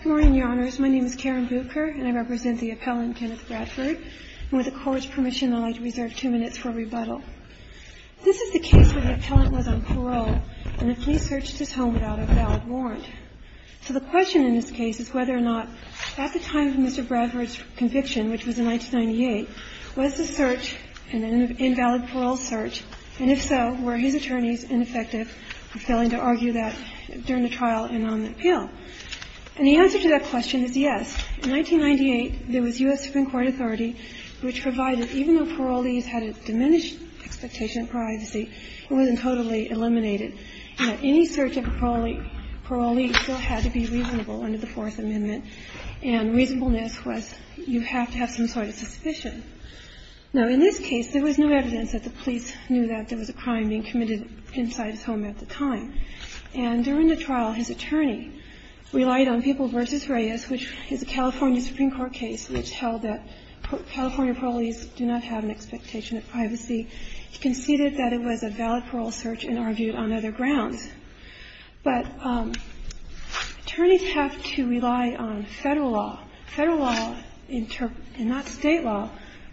Good morning, Your Honors. My name is Karen Bucher, and I represent the appellant, Kenneth Bradford, and with the Court's permission, I'd like to reserve two minutes for rebuttal. This is the case where the appellant was on parole, and the police searched his home without a valid warrant. So the question in this case is whether or not at the time of Mr. Bradford's conviction, which was in 1998, was the search an invalid parole search, and if so, were his attorneys ineffective for failing to argue that during the trial and on the appeal? And the answer to that question is yes. In 1998, there was U.S. Supreme Court authority which provided, even though parolees had a diminished expectation of privacy, it wasn't totally eliminated. Any search of a parolee still had to be reasonable under the Fourth Amendment, and reasonableness was you have to have some sort of suspicion. Now, in this case, there was no evidence that the police knew that there was a crime being committed inside his home at the time. And during the trial, his attorney relied on People v. Reyes, which is a California Supreme Court case which held that California parolees do not have an expectation of privacy. He conceded that it was a valid parole search and argued on other grounds. But attorneys have to rely on Federal law. Federal law and not State law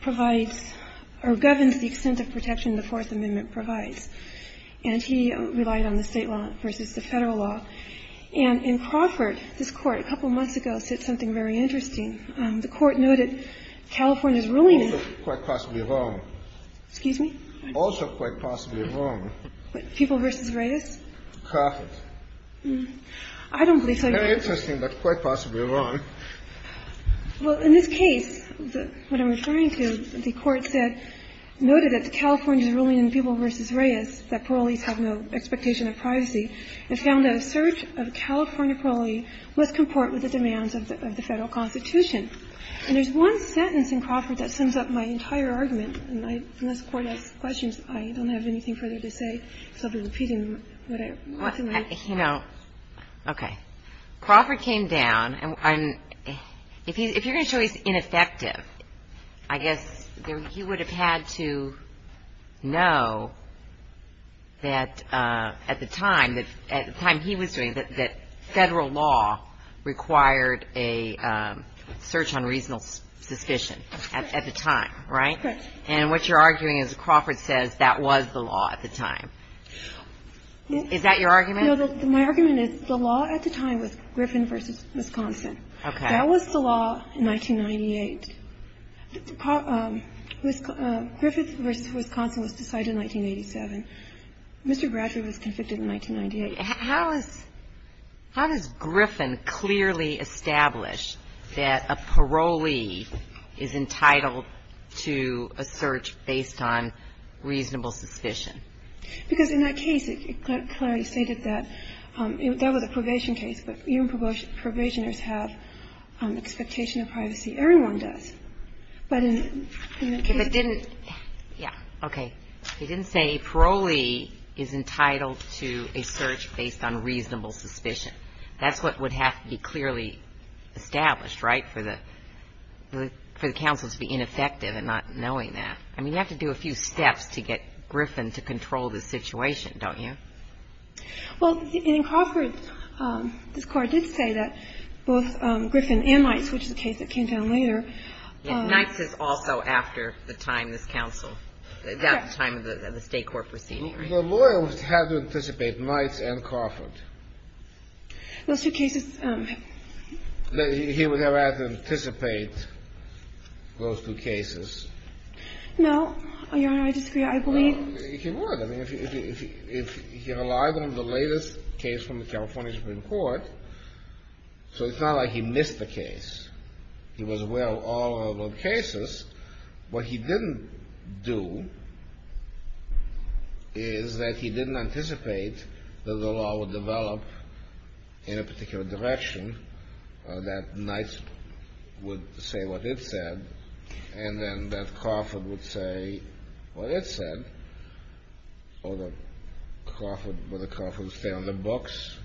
provides or governs the extent of protection the Fourth Amendment provides. And he relied on the State law versus the Federal law. And in Crawford, this Court, a couple months ago, said something very interesting. The Court noted California's ruling in the Fourth Amendment. Kennedy. Also quite possibly wrong. Excuse me? Also quite possibly wrong. What? People v. Reyes? Crawford. I don't believe so. Very interesting, but quite possibly wrong. Well, in this case, what I'm referring to, the Court said, noted that the California Supreme Court's ruling in People v. Reyes, that parolees have no expectation of privacy, and found that a search of a California parolee must comport with the demands of the Federal Constitution. And there's one sentence in Crawford that sums up my entire argument. And unless the Court has questions, I don't have anything further to say, so I'll be repeating what I want to make. Okay. Crawford came down, and if you're going to show he's ineffective, I guess he would have had to know that at the time, at the time he was doing it, that Federal law required a search on reasonable suspicion at the time, right? Correct. And what you're arguing is Crawford says that was the law at the time. Is that your argument? No, my argument is the law at the time was Griffin v. Wisconsin. Okay. That was the law in 1998. Griffin v. Wisconsin was decided in 1987. Mr. Bradford was convicted in 1998. How does Griffin clearly establish that a parolee is entitled to a search based on reasonable suspicion? Because in that case, it clearly stated that that was a probation case. But even probationers have expectation of privacy. Everyone does. But in that case they didn't. Yeah. Okay. It didn't say parolee is entitled to a search based on reasonable suspicion. That's what would have to be clearly established, right, for the counsel to be ineffective and not knowing that. I mean, you have to do a few steps to get Griffin to control this situation, don't you? Well, in Crawford, this Court did say that both Griffin and Nights, which is a case that came down later. Nights is also after the time this counsel, at the time of the State court proceeding, right? The lawyer would have to anticipate Nights and Crawford. Those two cases. He would have to anticipate those two cases. No. Your Honor, I disagree. I believe. He would. I mean, if he relied on the latest case from the California Supreme Court. So it's not like he missed the case. He was aware of all of the cases. What he didn't do is that he didn't anticipate that the law would develop in a particular direction, that Nights would say what it said. And then that Crawford would say what it said. Or the Crawford would stay on the books,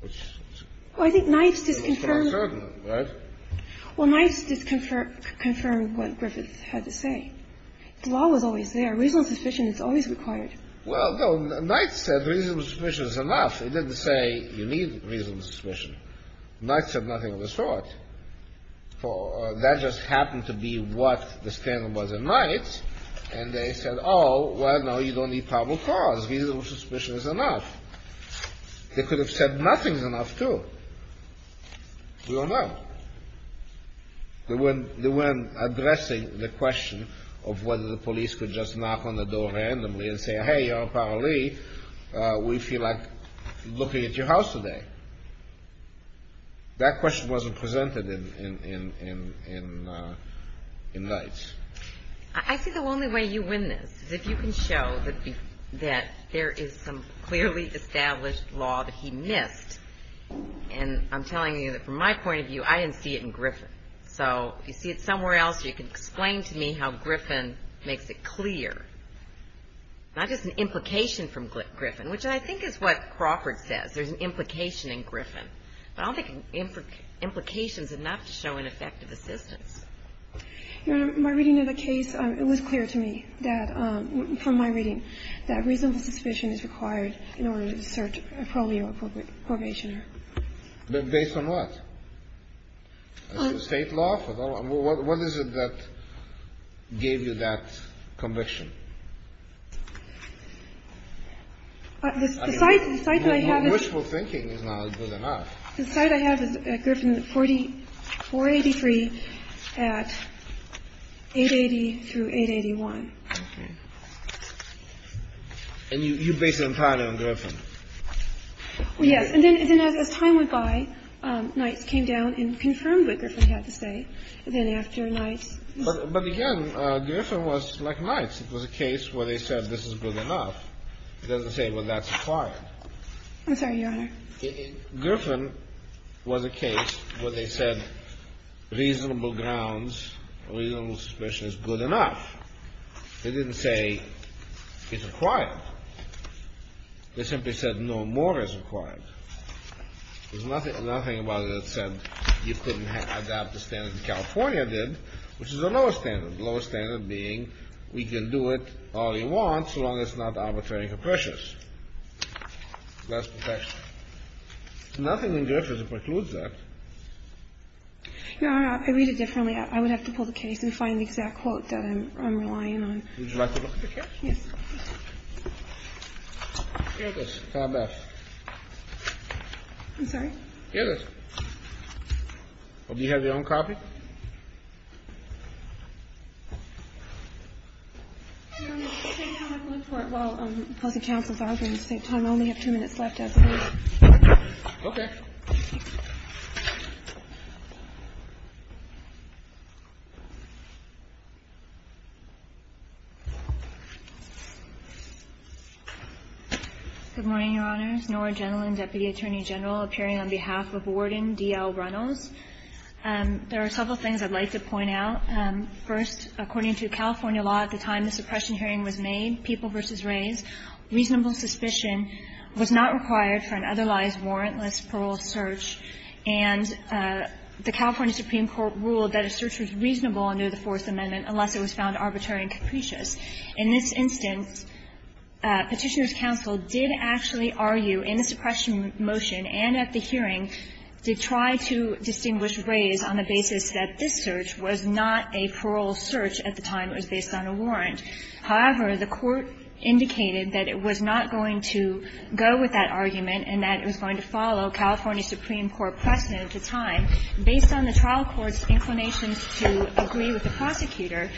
which is not certain, right? Well, Nights did confirm what Griffin had to say. The law was always there. Reasonable suspicion is always required. Well, no. Nights said reasonable suspicion is enough. Nights said nothing of the sort. That just happened to be what the standard was in Nights. And they said, oh, well, no, you don't need probable cause. Reasonable suspicion is enough. They could have said nothing is enough, too. We don't know. They weren't addressing the question of whether the police could just knock on the door randomly and say, hey, Your Honor, apparently we feel like looking at your house today. That question wasn't presented in Nights. I see the only way you win this is if you can show that there is some clearly established law that he missed. And I'm telling you that from my point of view, I didn't see it in Griffin. So if you see it somewhere else, you can explain to me how Griffin makes it clear, not just an implication from Griffin, which I think is what Crawford says. There's an implication in Griffin. But I don't think an implication is enough to show ineffective assistance. Your Honor, my reading of the case, it was clear to me that from my reading that reasonable suspicion is required in order to search a probably appropriate probationer. Based on what? State law? What is it that gave you that conviction? The site that I have is. Your wishful thinking is not good enough. The site I have is at Griffin, 483 at 880 through 881. Okay. And you base it entirely on Griffin? Yes. And then as time went by, Nights came down and confirmed what Griffin had to say. And then after Nights. But again, Griffin was like Nights. It was a case where they said this is good enough. It doesn't say, well, that's required. I'm sorry, Your Honor. Griffin was a case where they said reasonable grounds, reasonable suspicion is good enough. They didn't say it's required. They simply said no more is required. There's nothing about it that said you couldn't adapt the standard that California did, which is the lowest standard, the lowest standard being we can do it all we want so long as it's not arbitrary and capricious. That's perfection. Nothing in Griffin precludes that. Your Honor, I read it differently. I would have to pull the case and find the exact quote that I'm relying on. Would you like to look at the case? Yes. Here it is. I'm sorry? Here it is. Do you have your own copy? I'm going to look for it while the opposing counsel is arguing. I only have two minutes left. Okay. Good morning, Your Honors. Nora Gentleman, Deputy Attorney General, appearing on behalf of Warden D.L. Reynolds. There are several things I'd like to point out. First, according to California law at the time the suppression hearing was made, reasonable suspicion was not required for an otherwise warrantless parole search and the California Supreme Court ruled that a search was reasonable under the Fourth Amendment unless it was found arbitrary and capricious. In this instance, Petitioner's counsel did actually argue in the suppression motion and at the hearing to try to distinguish Rays on the basis that this search was not a parole search at the time. It was based on a warrant. However, the court indicated that it was not going to go with that argument and that it was going to follow California Supreme Court precedent at the time. Based on the trial court's inclinations to agree with the prosecutor,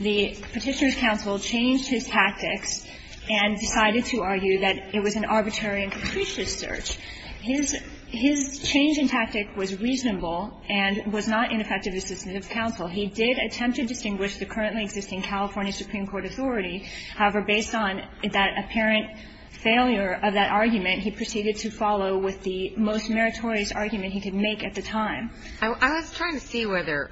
the Petitioner's counsel changed his tactics and decided to argue that it was an arbitrary and capricious search. His change in tactic was reasonable and was not ineffective, as did the counsel. He did attempt to distinguish the currently existing California Supreme Court authority. However, based on that apparent failure of that argument, he proceeded to follow with the most meritorious argument he could make at the time. I was trying to see whether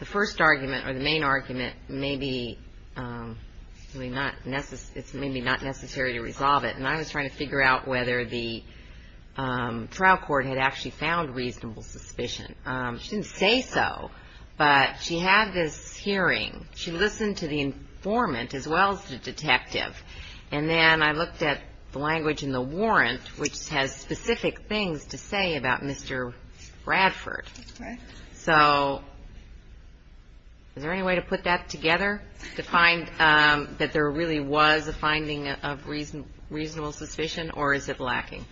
the first argument or the main argument may be not necessary to resolve it, and I was trying to figure out whether the trial court had actually found reasonable suspicion. She didn't say so, but she had this hearing. She listened to the informant as well as the detective, and then I looked at the language in the warrant, which has specific things to say about Mr. Bradford. So is there any way to put that together to find that there really was a finding of reasonable suspicion, or is it lacking?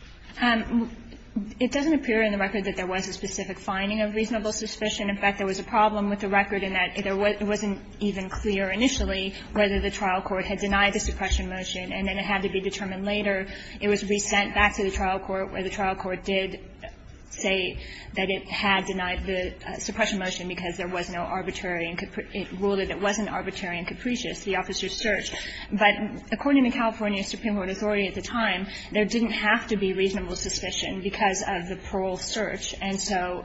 It doesn't appear in the record that there was a specific finding of reasonable suspicion. In fact, there was a problem with the record in that it wasn't even clear initially whether the trial court had denied the suppression motion and then it had to be determined later. It was resent back to the trial court, where the trial court did say that it had denied the suppression motion because there was no arbitrary and it ruled that it wasn't arbitrary and capricious, the officer's search. But according to California Supreme Court authority at the time, there didn't have to be reasonable suspicion because of the parole search. And so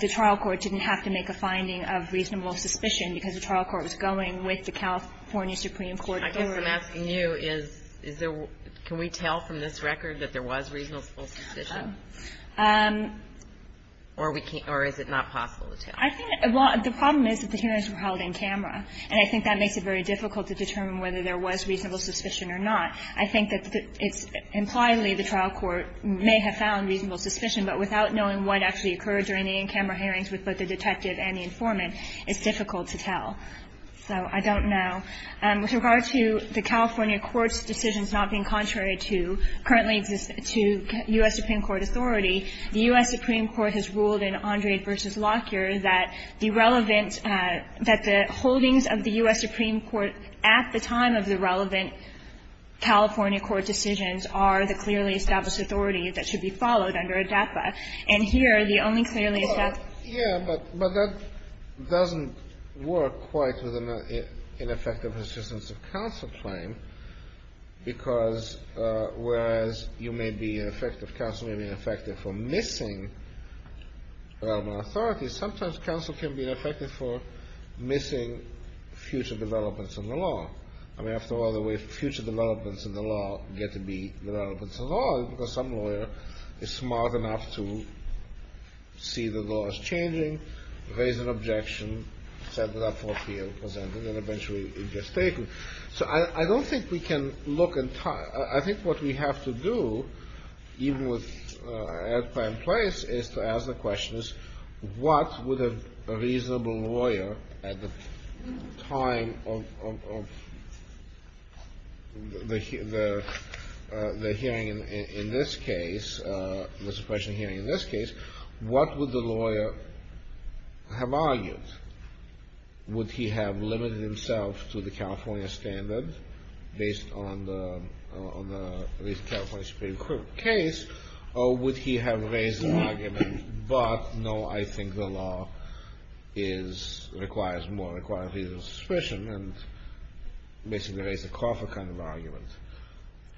the trial court didn't have to make a finding of reasonable suspicion because the trial court was going with the California Supreme Court. I guess I'm asking you, is there – can we tell from this record that there was reasonable suspicion, or we can't – or is it not possible to tell? I think – well, the problem is that the hearings were held in camera, and I think that makes it very difficult to determine whether there was reasonable suspicion or not. I think that it's – impliedly, the trial court may have found reasonable suspicion, but without knowing what actually occurred during the in-camera hearings with both the detective and the informant, it's difficult to tell. So I don't know. With regard to the California court's decisions not being contrary to currently to U.S. Supreme Court authority, the U.S. Supreme Court has ruled in Andrade v. Lockyer that the relevant – that the holdings of the U.S. Supreme Court at the time of the relevant California court decisions are the clearly established authority that should be followed under ADAPA. And here, the only clearly established – Well, yeah, but that doesn't work quite with an ineffective assistance of counsel claim, because whereas you may be ineffective – counsel may be ineffective for missing relevant authority, sometimes counsel can be ineffective for missing future developments in the law. I mean, after all, the way future developments in the law get to be developments in the law is because some lawyer is smart enough to see the law as changing, raise an objection, set it up for appeal, present it, and eventually it gets taken. So I don't think we can look – I think what we have to do, even with ADAPA in place, is to ask the question, what would a reasonable lawyer at the time of the hearing in this case, the suppression hearing in this case, what would the lawyer have argued? Would he have limited himself to the California standard based on the California Supreme Court case, or would he have raised an argument, but no, I think the law is – requires more, requires reasonable suppression, and basically raised a coffer kind of argument.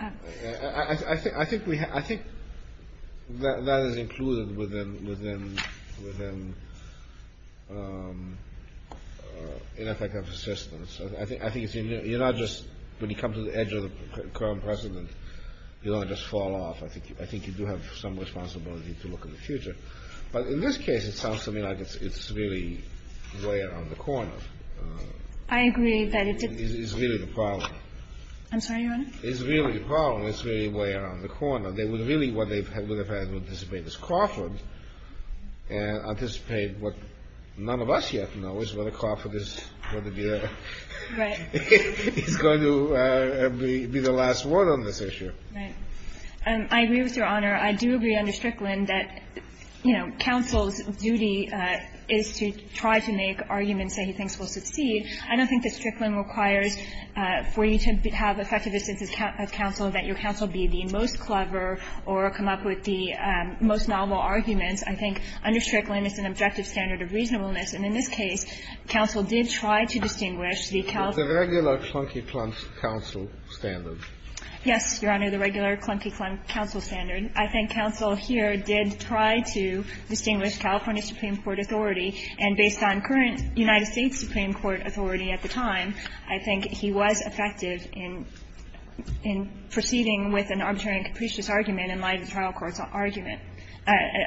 I think we have – I think that is included within ineffective assistance. I think it's – you're not just – when you come to the edge of the current precedent, you don't just fall off. I think you do have some responsibility to look in the future. But in this case, it sounds to me like it's really way around the corner. I agree that it's a – It's really the problem. I'm sorry, Your Honor? It's really the problem. It's really way around the corner. They would really – what they would have had to anticipate is Crawford and anticipate what none of us yet know, is whether Crawford is going to be the – Right. He's going to be the last word on this issue. Right. I agree with Your Honor. I do agree under Strickland that, you know, counsel's duty is to try to make arguments that he thinks will succeed. I don't think that Strickland requires for you to have effective assistance of counsel that your counsel be the most clever or come up with the most novel arguments. I think under Strickland, it's an objective standard of reasonableness. And in this case, counsel did try to distinguish the – The regular clunky counsel standard. Yes, Your Honor, the regular clunky counsel standard. I think counsel here did try to distinguish California Supreme Court authority. And based on current United States Supreme Court authority at the time, I think he was effective in proceeding with an arbitrary and capricious argument in light of the trial court's argument –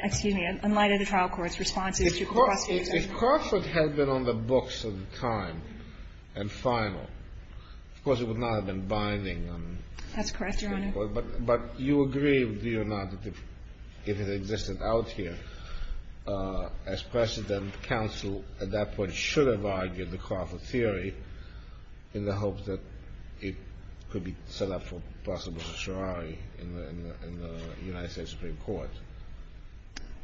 excuse me, in light of the trial court's responses to the prosecution. If Crawford had been on the books at the time and final, of course, it would not have been binding on the Supreme Court. That's correct, Your Honor. But you agree, do you not, that if it existed out here, as President, counsel at that point should have argued the Crawford theory in the hopes that it could be set up for possible certiorari in the United States Supreme Court?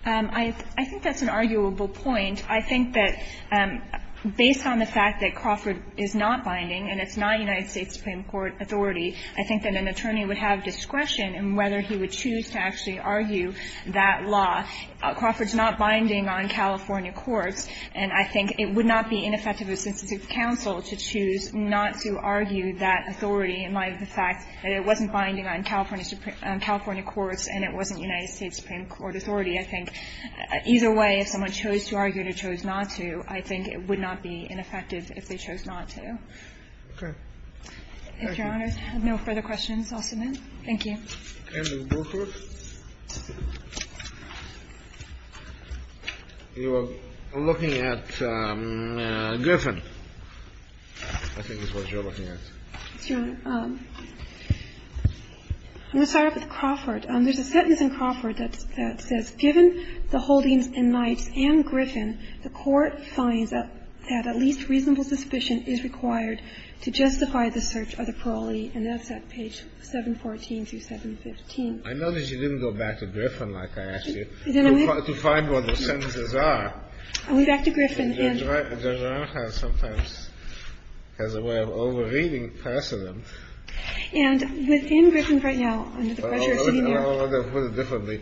I think that's an arguable point. I think that based on the fact that Crawford is not binding and it's not United States Supreme Court authority, I think that an attorney would have discretion in whether he would choose to actually argue that law. Crawford's not binding on California courts, and I think it would not be ineffective of a sensitive counsel to choose not to argue that authority in light of the fact that it wasn't binding on California courts and it wasn't United States Supreme Court authority. I think either way, if someone chose to argue and they chose not to, I think it would not be ineffective if they chose not to. Okay. Thank you. If Your Honor has no further questions, I'll submit. Thank you. Ms. Burkhardt, you were looking at Griffin, I think is what you were looking at. Yes, Your Honor. I'm going to start off with Crawford. There's a sentence in Crawford that says, I know that you didn't go back to Griffin like I asked you to find what those sentences are. I'll go back to Griffin. Judge O'Connor sometimes has a way of over-reading precedent. And within Griffin right now, under the pressure of sitting here. I don't want to put it differently. I don't want to put it differently.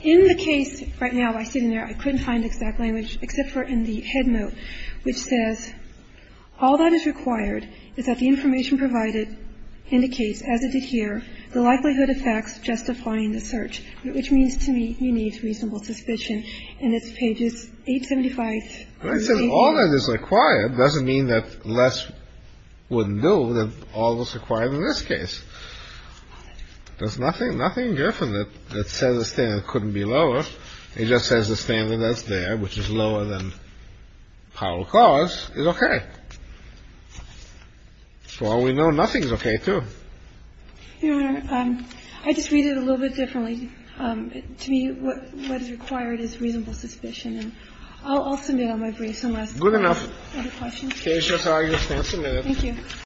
In the case right now, I couldn't find exact language except for in the head note, which says all that is required is that the information provided indicates, as it did here, the likelihood of facts justifying the search, which means to me you need reasonable suspicion. And it's pages 875. And it says all that is required. It doesn't mean that less wouldn't do than all that's required in this case. There's nothing in Griffin that says the standard couldn't be lower. It just says the standard that's there, which is lower than Powell-Clause, is okay. So all we know, nothing's okay, too. Your Honor, I just read it a little bit differently. To me, what is required is reasonable suspicion. I'll submit on my briefs unless there are other questions. Good enough. Okay, Your Honor. You may submit. Thank you.